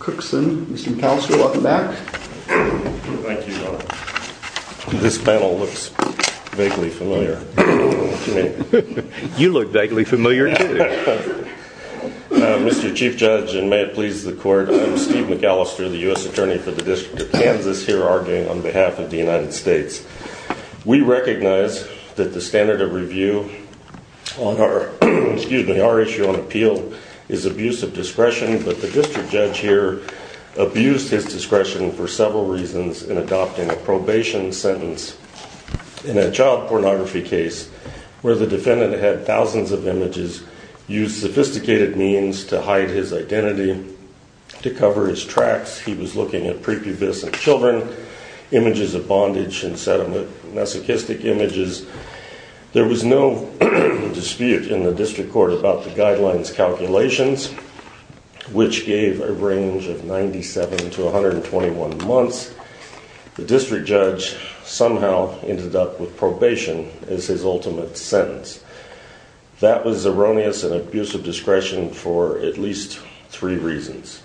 Mr. McAllister, welcome back. Thank you, John. This panel looks vaguely familiar. You look vaguely familiar, too. Mr. Chief Judge, and may it please the Court, I'm Steve McAllister, the U.S. Attorney for the District of Kansas, here arguing on behalf of the United States. We recognize that the standard of review on our, excuse me, our issue on appeal is abuse of discretion, but the District Judge here abused his discretion for several reasons in adopting a probation sentence in a child pornography case where the defendant had thousands of images, used sophisticated means to hide his identity, to cover his tracks. He was looking at prepubescent children, images of bondage and sediment, masochistic images. There was no dispute in the District Court about the guidelines calculations, which gave a range of 97 to 121 months. The District Judge somehow ended up with probation as his ultimate sentence. That was erroneous and abuse of discretion for at least three reasons.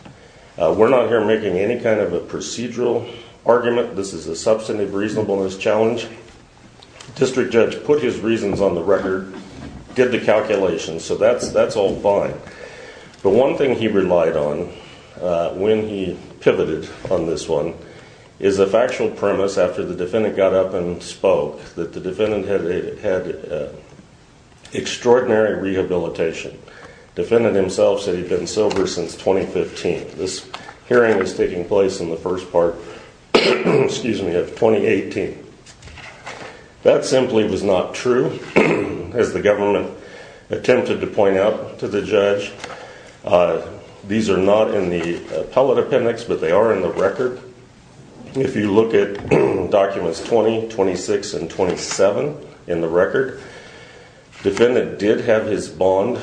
We're not here making any kind of a procedural argument. This is a substantive reasonableness challenge. District Judge put his reasons on the record, did the calculations, so that's all fine. But one thing he relied on when he pivoted on this one is a factual premise after the defendant got up and spoke that the defendant had extraordinary rehabilitation. Defendant himself said he'd been sober since 2015. This hearing is taking place in the first part of 2018. That simply was not true, as the government attempted to point out to the judge. These are not in the appellate appendix, but they are in the record. If you look at documents 20, 26 and 27 in the record, defendant did have his bond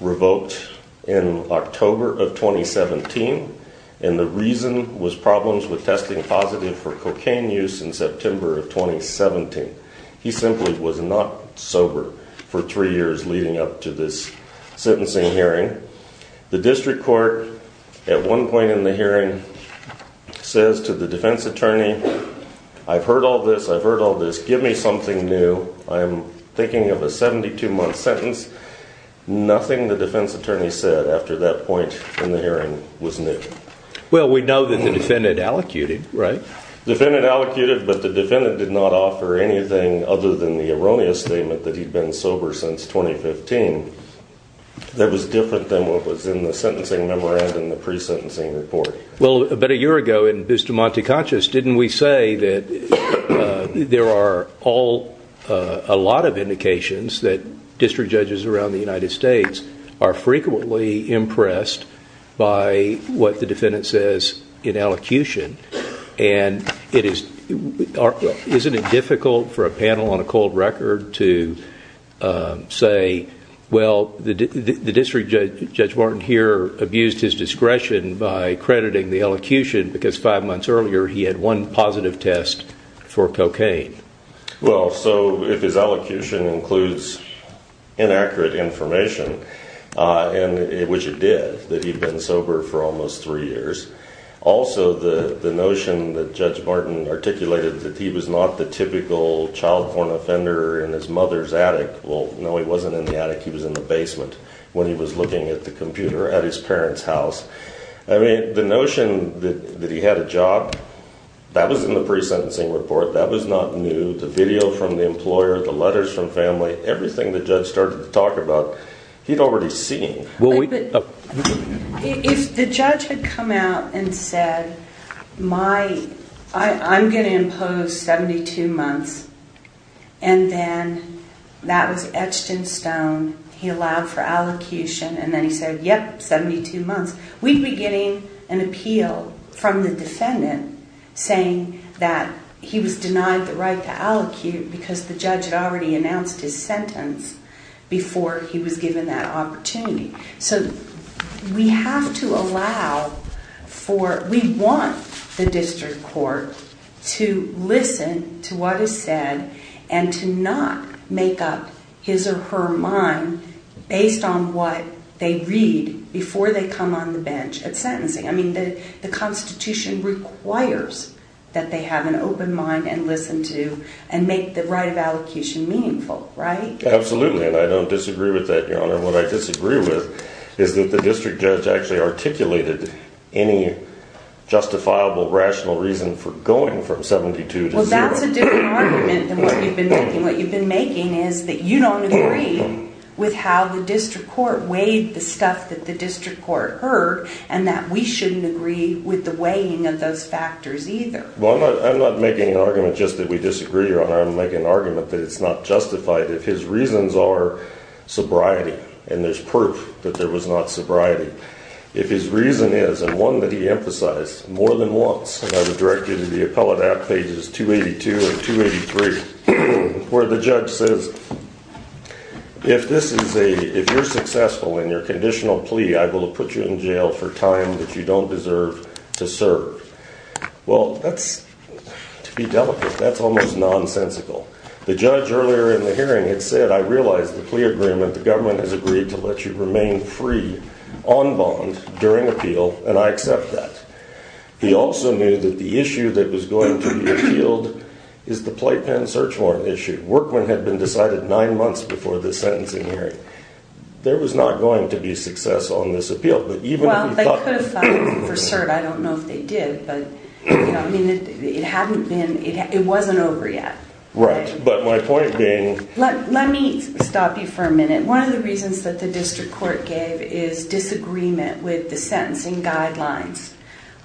revoked in October of 2017, and the reason was problems with testing positive for cocaine use in September of 2017. He simply was not sober for three years leading up to this sentencing hearing. The District Court at one point in the hearing says to the defense attorney, I've heard all this, I've heard nothing the defense attorney said after that point in the hearing was new. Well, we know that the defendant allocated, right? Defendant allocated, but the defendant did not offer anything other than the erroneous statement that he'd been sober since 2015. That was different than what was in the sentencing memorandum, the pre-sentencing report. Well, about a year ago in Bustamante Conscious, didn't we say that there are a lot of indications that district judges around the United States are frequently impressed by what the defendant says in elocution, and isn't it difficult for a panel on a cold record to say, well, the district judge, Judge Martin here, abused his discretion by crediting the elocution because five months earlier he had one positive test for cocaine. Well, so if his elocution includes inaccurate information, which it did, that he'd been sober for almost three years. Also, the notion that Judge Martin articulated that he was not the typical child porn offender in his mother's attic. Well, no, he wasn't in the attic, he was in the house. I mean, the notion that he had a job, that was in the pre-sentencing report, that was not new. The video from the employer, the letters from family, everything the judge started to talk about, he'd already seen. If the judge had come out and said, I'm going to impose 72 months, and then that was We'd be getting an appeal from the defendant saying that he was denied the right to elocute because the judge had already announced his sentence before he was given that opportunity. So we have to allow for, we want the district court to listen to what is said and to not make up his or her mind based on what they read before they come on the bench at sentencing. I mean, the Constitution requires that they have an open mind and listen to, and make the right of elocution meaningful, right? Absolutely, and I don't disagree with that, Your Honor. What I disagree with is that the district judge actually articulated any justifiable, rational reason for going from 72 to zero. Well, that's a different argument than what you've been making. What you've been making is that you don't agree with how the district court weighed the stuff that the district court heard, and that we shouldn't agree with the weighing of those factors either. Well, I'm not making an argument just that we disagree, Your Honor. I'm making an argument that it's not justified if his reasons are sobriety, and there's proof that there was not sobriety. If his reason is, and one that he If this is a, if you're successful in your conditional plea, I will put you in jail for time that you don't deserve to serve. Well, that's, to be delicate, that's almost nonsensical. The judge earlier in the hearing had said, I realize the plea agreement, the government has agreed to let you remain free on bond during appeal, and I accept that. He also knew that the issue that was going to be appealed is the playpen search warrant issue. Workman had been decided nine months before the sentencing hearing. There was not going to be success on this appeal. Well, they could have filed for cert. I don't know if they did, but, you know, I mean, it hadn't been, it wasn't over yet. Right, but my point being Let me stop you for a minute. One of the reasons that the district court gave is disagreement with the sentencing guidelines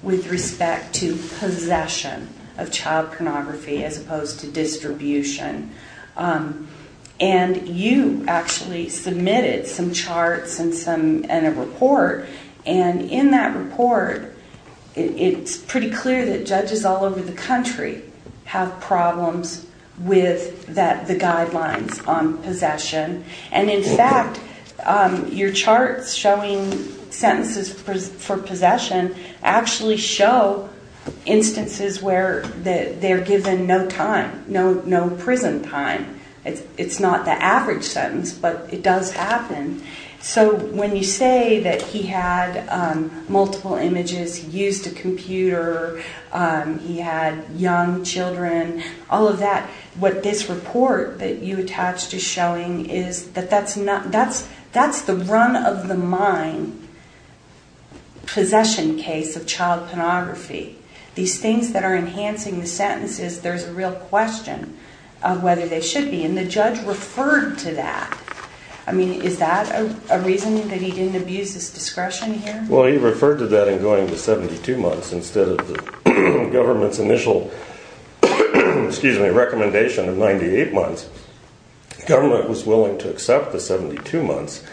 with respect to possession of child pornography as opposed to distribution. And you actually submitted some charts and a report, and in that report, it's pretty clear that judges all over the country have problems with the guidelines on possession, and in fact, your charts showing sentences for possession actually show instances where they're given no time, no prison time. It's not the average sentence, but it does happen. So when you say that he had multiple images, used a computer, he had young children, all of that, what this report that you attached is showing is that that's the run-of-the-mind possession case of child pornography. These things that are enhancing the sentences, there's a real question of whether they should be, and the judge referred to that. I mean, is that a reason that he didn't abuse his discretion here? Well, he referred to that in going to 72 months instead of the government's initial recommendation of 98 months. The government was willing to accept the 72 months,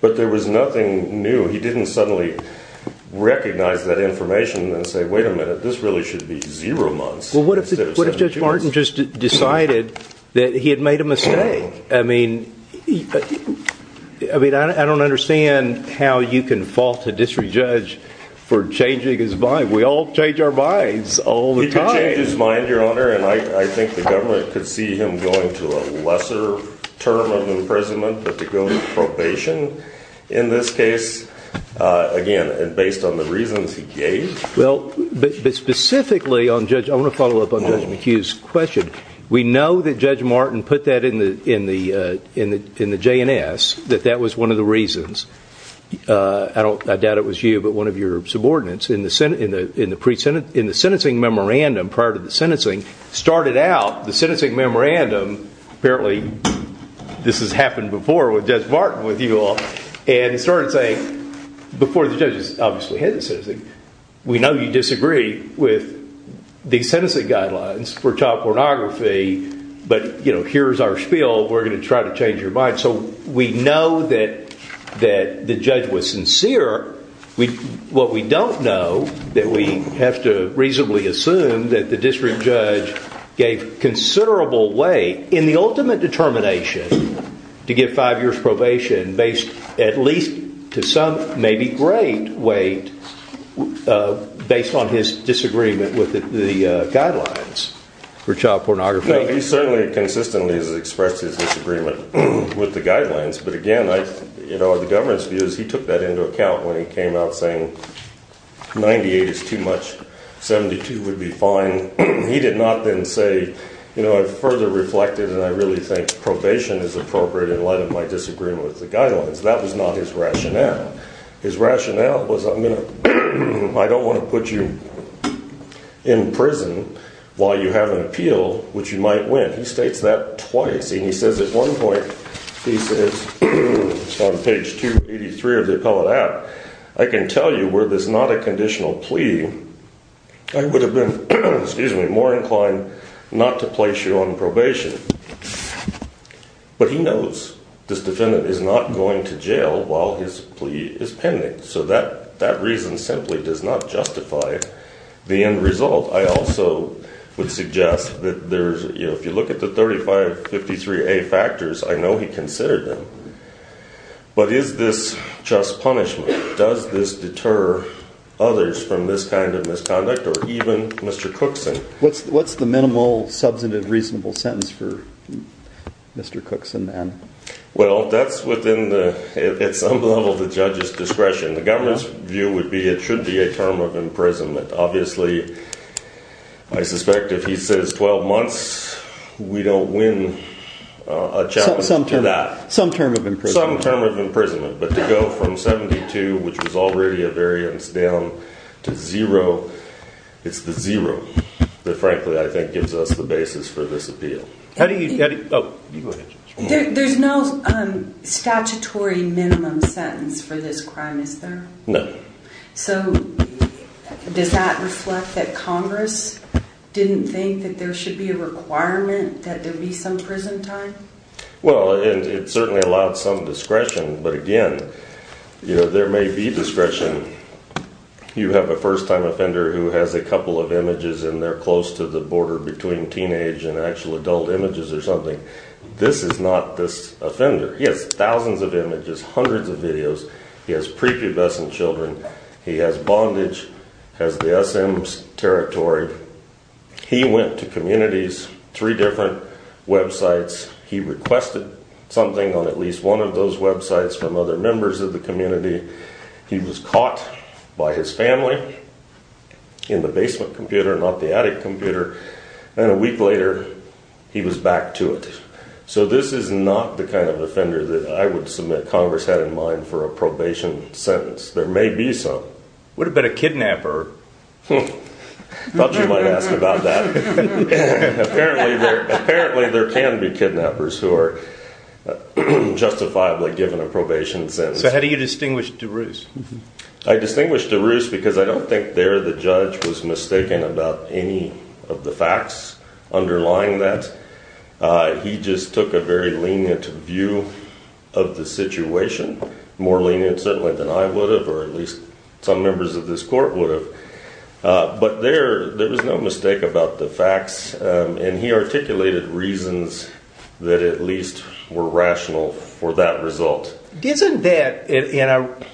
but there was nothing new. He didn't suddenly recognize that information and say, wait a minute, this really should be zero months. Well, what if Judge Martin just decided that he had made a mistake? I mean, I don't understand how you can fault a district judge for changing his mind. We all change our minds all the time. He can change his mind, Your Honor, and I think the government could see him going to a lesser term of imprisonment than to go on probation in this case, again, based on the reasons he gave. Well, but specifically on Judge, I want to follow up on Judge McHugh's question. We know that Judge Martin put that in the J&S, that that was one of the reasons. I doubt it was you, but one of your subordinates in the sentencing memorandum, prior to the sentencing, started out the sentencing memorandum, apparently this has happened before with Judge Martin with you all, and started saying, before the judges obviously had the sentencing, we know you disagree with the sentencing guidelines for child pornography, but here's our spiel, we're going to try to change your mind. So we know that the judge was sincere. What we don't know, that we have to reasonably assume, that the district judge gave considerable weight in the ultimate determination to give five years probation, based at least to some, maybe great weight, based on his disagreement with the guidelines for child pornography. He certainly consistently has expressed his disagreement with the guidelines, but again, the government's view is he took that into account when he came out saying, 98 is too much, 72 would be fine. He did not then say, you know, I've further reflected, and I really think probation is appropriate in light of my disagreement with the guidelines. That was not his rationale. His rationale was, I don't want to put you in prison while you have an appeal, which you might win. He states that twice, and he says at one point, he says on page 283 of the appellate act, I can tell you were this not a conditional plea, I would have been more inclined not to place you on probation. But he knows this defendant is not going to jail while his plea is pending. So that reason simply does not justify the end result. I also would suggest that if you look at the 3553A factors, I know he considered them, but is this just punishment? Does this deter others from this kind of misconduct or even Mr. Cookson? What's the minimal substantive reasonable sentence for Mr. Cookson then? Well, that's within the, at some level, the judge's discretion. The government's view would be it should be a term of imprisonment. Obviously, I suspect if he says 12 months, we don't win a challenge to that. Some term of imprisonment. Some term of imprisonment. But to go from 72, which was already a variance, down to zero, it's the zero that frankly I think gives us the basis for this appeal. There's no statutory minimum sentence for this crime, is there? No. So does that reflect that Congress didn't think that there should be a requirement that there be some prison time? Well, and it certainly allowed some discretion. But again, there may be discretion. You have a first-time offender who has a couple of images and they're close to the border between teenage and actual adult images or something. This is not this offender. He has thousands of images, hundreds of videos. He has prepubescent children. He has bondage, has the SM territory. He went to communities, three different websites. He requested something on at least one of those websites from other members of the community. He was caught by his family in the basement computer, not the attic computer. And a week later, he was back to it. So this is not the kind of offender that I would submit Congress had in mind for a probation sentence. There may be some. What about a kidnapper? I thought you might ask about that. Apparently, there can be kidnappers who are justifiably given a probation sentence. So how do you distinguish DeRusse? I distinguish DeRusse because I don't think there the judge was mistaken about any of the facts underlying that. He just took a very lenient view of the situation, more lenient certainly than I would have or at least some members of this court would have. But there was no mistake about the facts, and he articulated reasons that at least were rational for that result. Isn't that, and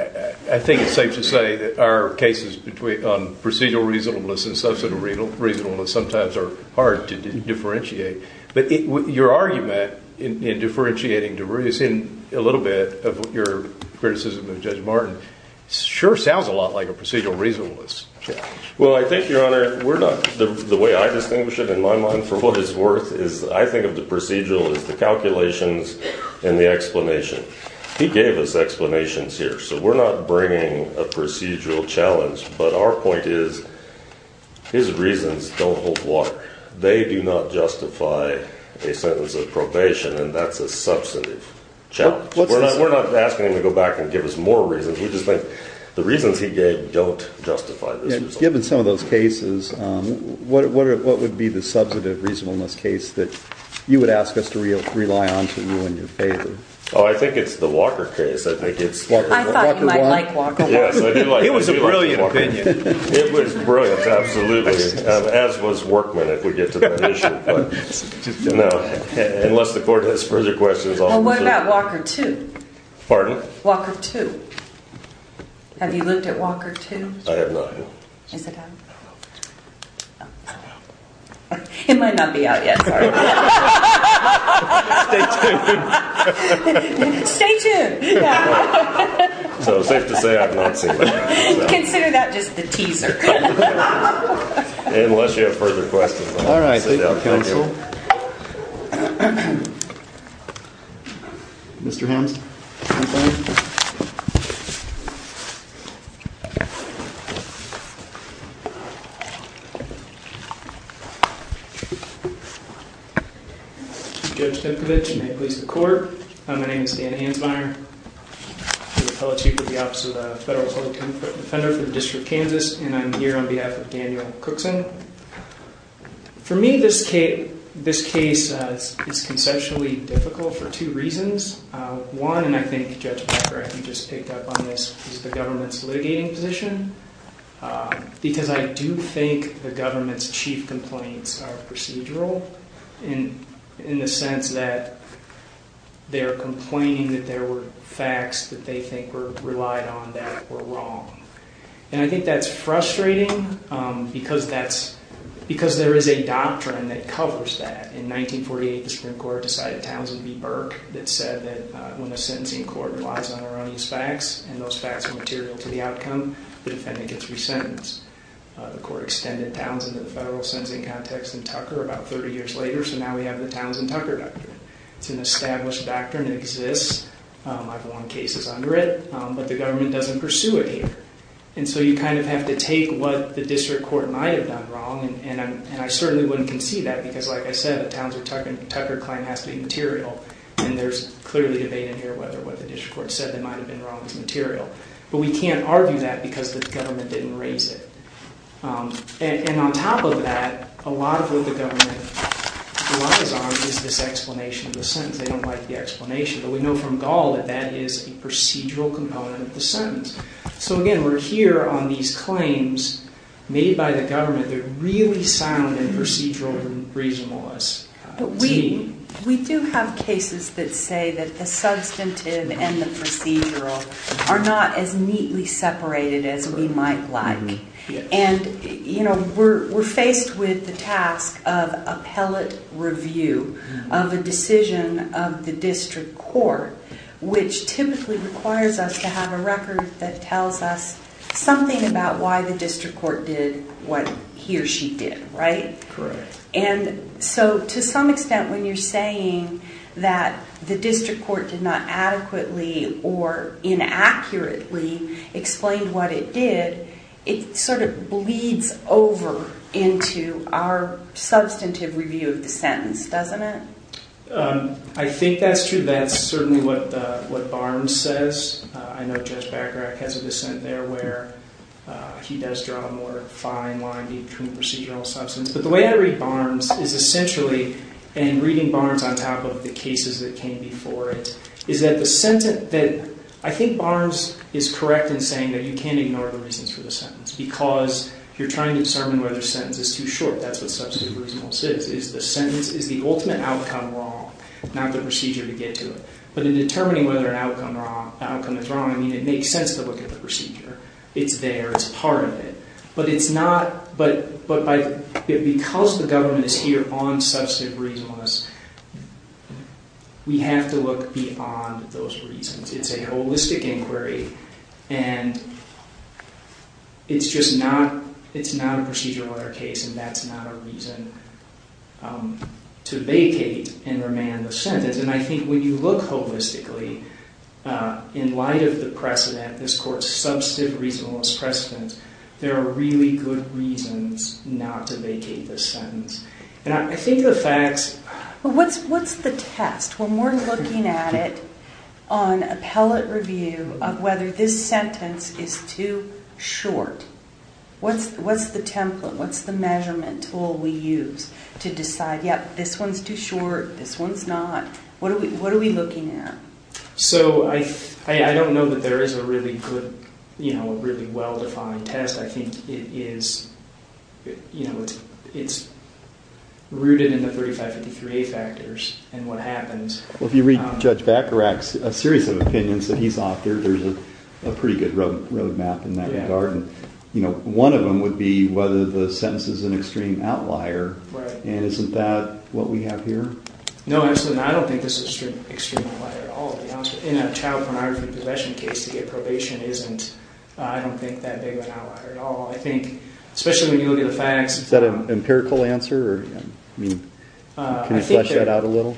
I think it's safe to say that our cases on procedural reasonableness and substantial reasonableness sometimes are hard to differentiate. But your argument in differentiating DeRusse and a little bit of your criticism of Judge Martin sure sounds a lot like a procedural reasonableness challenge. Well, I think, Your Honor, we're not, the way I distinguish it in my mind for what it's worth is I think of the procedural as the calculations and the explanation. He gave us explanations here, so we're not bringing a procedural challenge. But our point is his reasons don't hold water. They do not justify a sentence of probation, and that's a substantive challenge. We're not asking him to go back and give us more reasons. We just think the reasons he gave don't justify this result. Given some of those cases, what would be the substantive reasonableness case that you would ask us to rely on to you in your favor? Oh, I think it's the Walker case. I thought you might like Walker. It was a brilliant opinion. It was brilliant, absolutely, as was Workman, if we get to that issue. No, unless the court has further questions. Well, what about Walker 2? Pardon? Walker 2. Have you looked at Walker 2? I have not, no. Is it out? It might not be out yet. Sorry. Stay tuned. Stay tuned. So it's safe to say I've not seen it. Consider that just the teaser. Unless you have further questions, I'll sit down. Thank you. Mr. Hansmeier? Judge Kipcovich, and may it please the court, my name is Dan Hansmeier. I'm the fellow chief of the Office of the Federal Court of Inquiry for the District of Kansas, and I'm here on behalf of Daniel Cookson. For me, this case is conceptually difficult for two reasons. One, and I think Judge Becker, I think, just picked up on this, is the government's litigating position, because I do think the government's chief complaints are procedural in the sense that they're complaining that there were facts that they think were relied on that were wrong. And I think that's frustrating because there is a doctrine that covers that. In 1948, the Supreme Court decided Townsend v. Burke that said that when the sentencing court relies on erroneous facts and those facts are material to the outcome, the defendant gets resentenced. The court extended Townsend to the federal sentencing context in Tucker about 30 years later, so now we have the Townsend-Tucker doctrine. It's an established doctrine that exists. I've won cases under it, but the government doesn't pursue it here. And so you kind of have to take what the district court might have done wrong, and I certainly wouldn't concede that because, like I said, the Townsend-Tucker claim has to be material, and there's clearly debate in here whether what the district court said that might have been wrong is material. But we can't argue that because the government didn't raise it. And on top of that, a lot of what the government relies on is this explanation of the sentence. They don't like the explanation, but we know from Gall that that is a procedural component of the sentence. So again, we're here on these claims made by the government that really sound and procedural and reasonable to me. But we do have cases that say that the substantive and the procedural are not as neatly separated as we might like. And, you know, we're faced with the task of appellate review of a decision of the district court, which typically requires us to have a record that tells us something about why the district court did what he or she did, right? Correct. And so to some extent, when you're saying that the district court did not adequately or inaccurately explain what it did, it sort of bleeds over into our substantive review of the sentence, doesn't it? I think that's true. That's certainly what Barnes says. I know Judge Bacharach has a dissent there where he does draw a more fine line between procedural and substance. But the way I read Barnes is essentially, and reading Barnes on top of the cases that came before it, is that the sentence that... I think Barnes is correct in saying that you can't ignore the reasons for the sentence because you're trying to determine whether a sentence is too short. That's what substantive reasonableness is. Is the sentence... Is the ultimate outcome wrong? Not the procedure to get to it. But in determining whether an outcome is wrong, I mean, it makes sense to look at the procedure. It's there. It's part of it. But it's not... But because the government is here on substantive reasonableness, we have to look beyond those reasons. It's a holistic inquiry and it's just not... It's a procedural case and that's not a reason to vacate and remand the sentence. And I think when you look holistically, in light of the precedent, this Court's substantive reasonableness precedent, there are really good reasons not to vacate this sentence. And I think the facts... Well, what's the test? When we're looking at it on appellate review of whether this sentence is too short, what's the template? What's the measurement tool we use to decide, yep, this one's too short, this one's not? What are we looking at? So I don't know that there is a really good, you know, a really well-defined test. I think it is... You know, it's rooted in the 3553A factors and what happens. Well, if you read Judge Bacarach's series of opinions that he's authored, there's a pretty good road map in that regard. One of them would be whether the sentence is an extreme outlier. And isn't that what we have here? No, absolutely not. I don't think this is an extreme outlier at all, to be honest. In a child pornography possession case, to get probation isn't, I don't think, that big of an outlier at all. I think, especially when you look at the facts... Is that an empirical answer? I mean, can you flesh that out a little?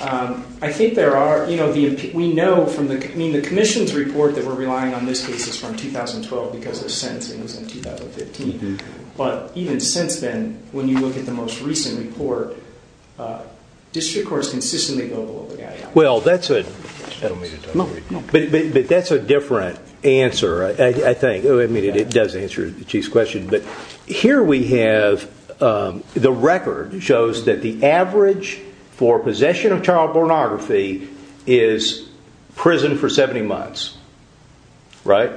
I think there are... You know, we know from the Commission's report that we're relying on these cases from 2012 because their sentencing was in 2015. But, even since then, when you look at the most recent report, district courts consistently go below the guideline. Well, that's a... That'll make it... But that's a different answer, I think. I mean, it does answer the Chief's question. But here we have the record shows that the average for possession of child pornography is prison for 70 months. Right?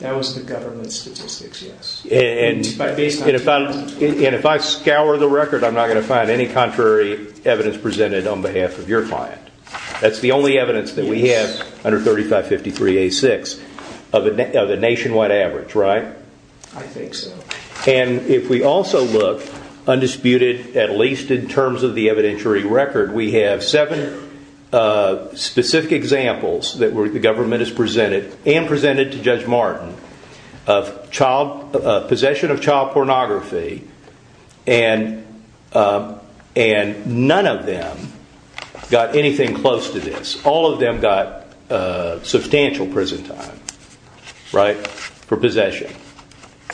That was the government's statistics, yes. And if I scour the record, I'm not going to find any contrary evidence presented on behalf of your client. That's the only evidence that we have under 3553A6 of a nationwide average, right? I think so. And if we also look undisputed, at least in terms of the evidentiary record, we have seven specific examples that the government has presented and presented to Judge Martin of possession of child pornography and none of them got anything close to this. All of them got substantial prison time. Right? For possession.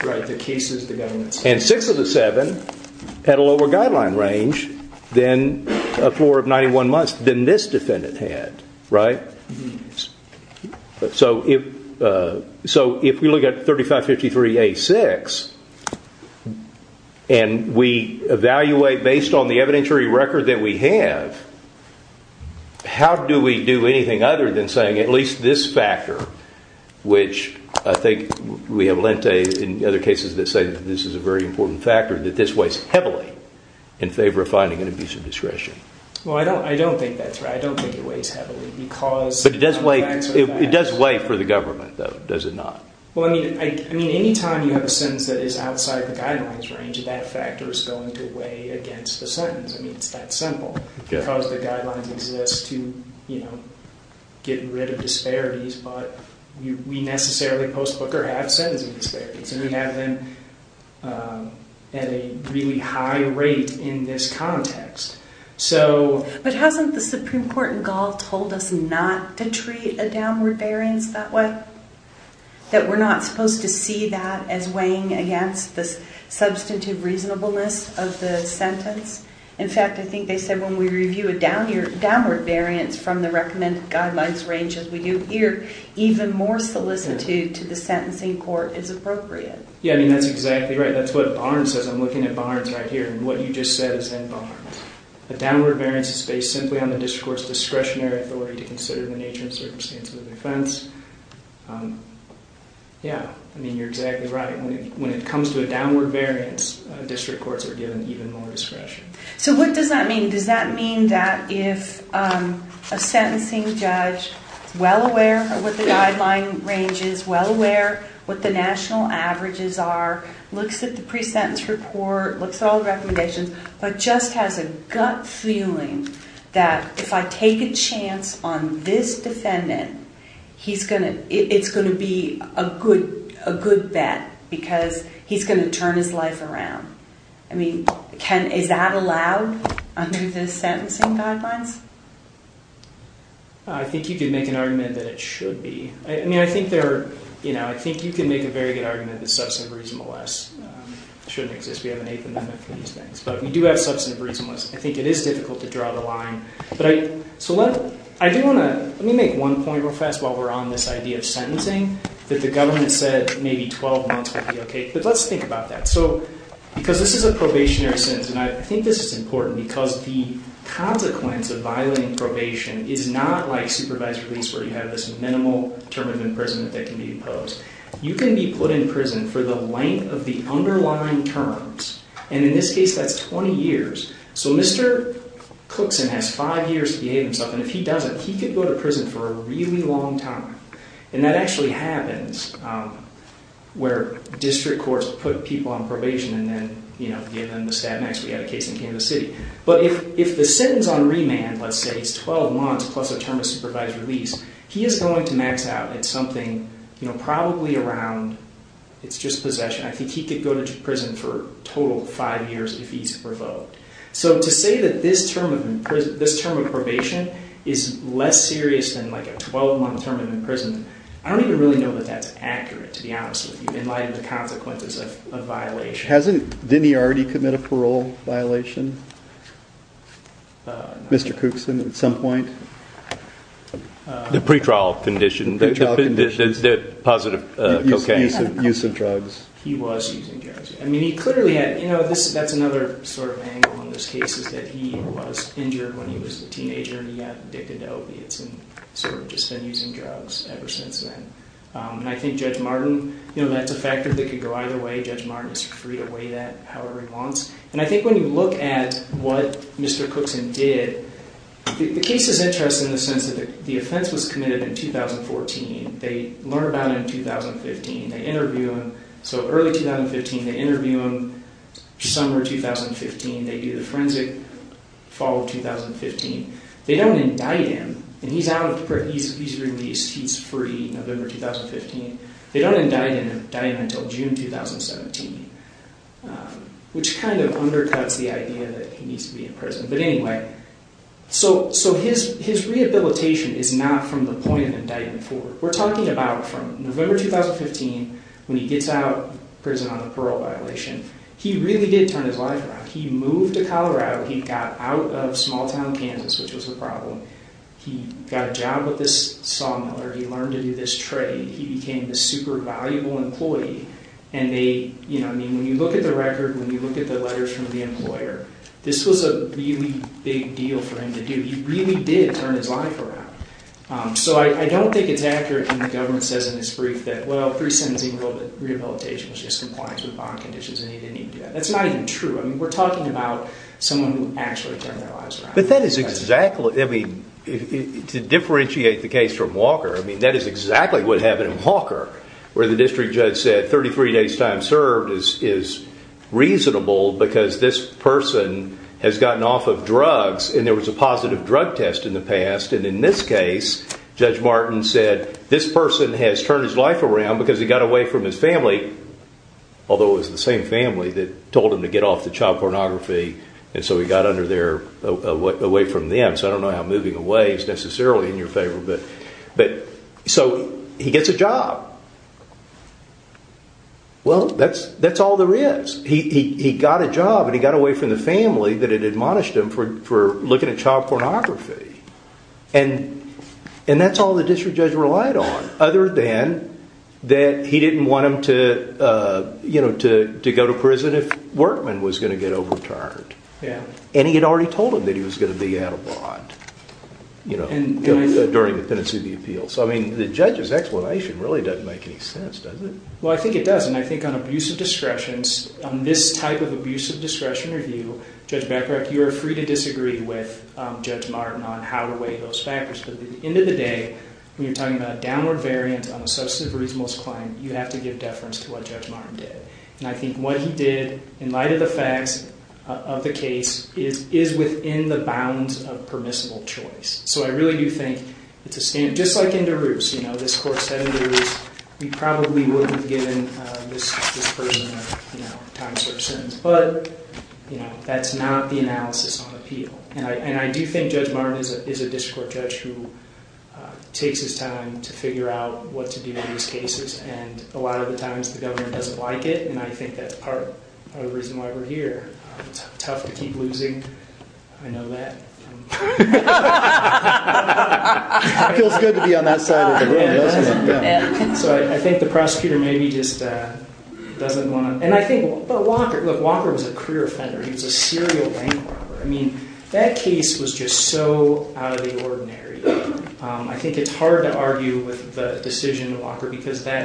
Right. The cases the government... And six of the seven had a lower guideline range than a floor of 91 months than this defendant had. Right? So if we look at 3553A6 and we evaluate based on the evidentiary record that we have, how do we do anything other than saying at least this factor, which I think we have lent days in other cases that say this is a very important factor that this weighs heavily in favor of finding an abuse of discretion. Well, I don't think that's right. I don't think it weighs heavily because... But it does weigh for the government, though, does it not? Well, I mean, any time you have a sentence that is outside the guidelines range that factor is going to weigh against the sentence. I mean, it's that simple. Because the guidelines exist to, you know, get rid of disparities, but we necessarily, post-Booker, have sentencing disparities and we have them at a really high rate in this context. So... But hasn't the Supreme Court in Gaul told us not to treat a downward variance that way? That we're not supposed to see that as weighing against the substantive reasonableness of the sentence? In fact, I think they said when we review a downward variance from the recommended guidelines range as we do here, even more solicitude to the sentencing court is appropriate. Yeah, I mean, that's exactly right. That's what Barnes says. I'm looking at Barnes right here and what you just said is in Barnes. A downward variance is based simply on the district court's discretionary authority to consider the nature and circumstance of the offense. Yeah, I mean, you're exactly right. When it comes to a downward variance, district courts are given even more discretion. So what does that mean? Does that mean that if a sentencing judge is well aware of what the guideline range is, well aware what the national averages are, looks at the pre-sentence report, looks at all the recommendations, but just has a gut feeling that if I take a chance on this defendant, it's going to be a good bet because he's going to turn his life around. I mean, is that allowed under the sentencing guidelines? I think you can make an argument that it should be. I mean, I think there are, you know, I think you can make a very good argument that substantive reasonableness shouldn't exist. We have an Eighth Amendment for these things, but we do have substantive reasonableness. I think it is difficult to draw the line, but I, so let, I do want to, let me make one point real fast while we're on this idea of sentencing that the government said maybe 12 months would be okay, but let's think about that. So, because this is a probationary sentence, and I think this is important because the consequence of violating probation is not like supervised release where you have this minimal term of imprisonment that can be imposed. You can be put in prison for the length of the underlying terms, and in this case that's 20 years. So, Mr. Cookson has five years to behave himself, and if he doesn't, he could go to prison for a really long time, and that actually happens where district courts put people on probation and then, you know, given the stat max we had a case in Kansas City. But, if the sentence on remand, let's say, is 12 months plus a term of supervised release, he is going to max out at something probably around, it's just possession, I think he could go to prison for a total of five years if he's provoked. So, to say that this term of probation is less serious than like a 12 month term of imprisonment, I don't even really know that that's accurate to be honest with you in light of the consequences of violation. Hasn't, didn't he already commit a parole Mr. Cookson at some point? The pre-trial condition. The pre-trial condition. The positive cocaine. Use of drugs. He was using drugs. I mean, he clearly had, you know, that's another sort of angle on this case is that he was injured when he was a teenager and he got addicted to opiates and sort of just been using drugs ever since then. And I think Judge Martin, you know, that's a factor that could go either way. Judge Martin is free to weigh that however he wants. And I think when you look at what Mr. Cookson did, the case is interesting in the sense that the offense was committed in 2014. They learn about it in 2015. They interview him. So early 2015. They interview him. Summer 2015. They do the forensic fall of 2015. They don't indict him. And he's released. He's free. November 2015. They don't indict him until June 2017. Which kind of undercuts the idea that he needs to be in prison. But anyway, so his rehabilitation is not from the point of indictment forward. We're talking about from November 2015, when he gets out of prison on the parole violation. He really did turn his life around. He moved to Colorado. He got out of small town Kansas, which was a problem. He got a job with this He turned his life around. So I don't think it's accurate when the government says in this brief that rehabilitation is just compliance with bond conditions. That's not even true. We're talking about someone who actually turned their lives around. To differentiate the case from Walker, that's exactly what happened in Walker. The district judge said 33 days time served is reasonable because this person has gotten off drugs. In this case, Judge Martin said this person has turned his life around because he got away from his family. He gets a job. That's all there is. He got a job. He got away from the family that admonished him for looking at child pornography. That's all the district judge relied on. He didn't want him to go to prison if Workman was going to get overtired. He told him he was going to be out of bond. The judge's explanation doesn't make sense. On this type of abuse of discretion review, you are free to disagree with Judge Martin. At the end of the day, you have to give deference to Judge Martin. I think what he did in light of the facts of the case is within the bounds of permissible choice. Just like this court said, we probably wouldn't have given this person a time search to do. And I think Judge Martin is a district court judge who takes his time to figure out what to do in these cases. A lot of times the government doesn't like it. I think that's part of the reason why we're here. It's tough to keep losing. I know that. It feels good to be on that side of the room, doesn't it? So I think the prosecutor maybe just doesn't want to and I think Walker was a career offender. He was a serial bank robber. I mean that case was just so out of the ordinary. I think it's hard to argue with the decision Walker because in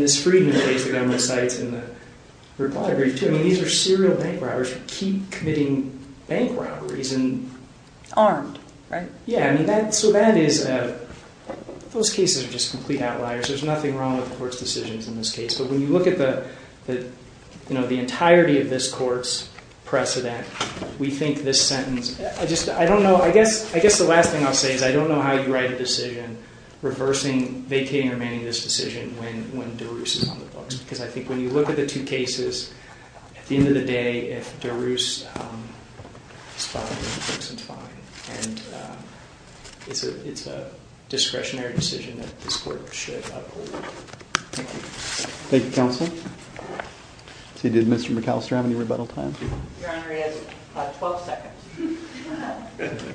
this freedom case these are serial bank robberies and they are like committing bank robberies and armed. Right? Yeah. So that is those cases are just complete outliers. There's nothing wrong with the court's decisions in this case. But when you look at the entirety of this court's precedent we think this sentence I don't know I guess the last thing I'll say is I don't know how you write a decision reversing vacating or manning this decision when you look at the two cases at the end of the day if DeRus is fine and it's a discretionary decision that this court should uphold. Thank you counsel. Did Mr. McAllister have any rebuttal time? Your Honor he has 12 seconds.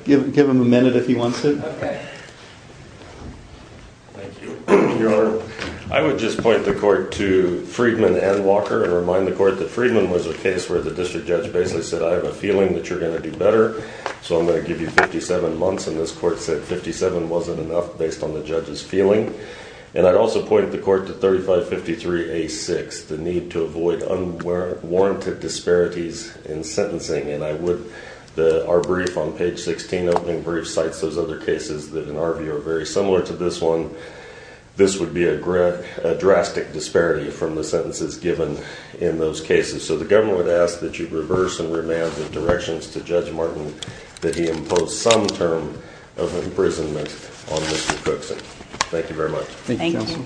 Give him a minute if he wants to. Okay. Thank you Your Honor. I would just point the court to Freedman and Walker and remind the court that Freedman was a case where the district judge basically said I have a feeling that you're going to do better so I'm not going better than you're going to do. I would also point the court to 3553A6 the need to avoid unwarranted disparities in sentencing and I would our brief on page 16 those other cases that are very similar to this one this would be a drastic disparity from the sentences given in those cases so the government would ask that you reverse and remand the directions to Judge Martin that he impose some term of imprisonment on Mr. Cookson. Thank you very much. Thank you Thank you. Thank you counsel. Thank you. Thank you. Thank you. Thank you. Thank you.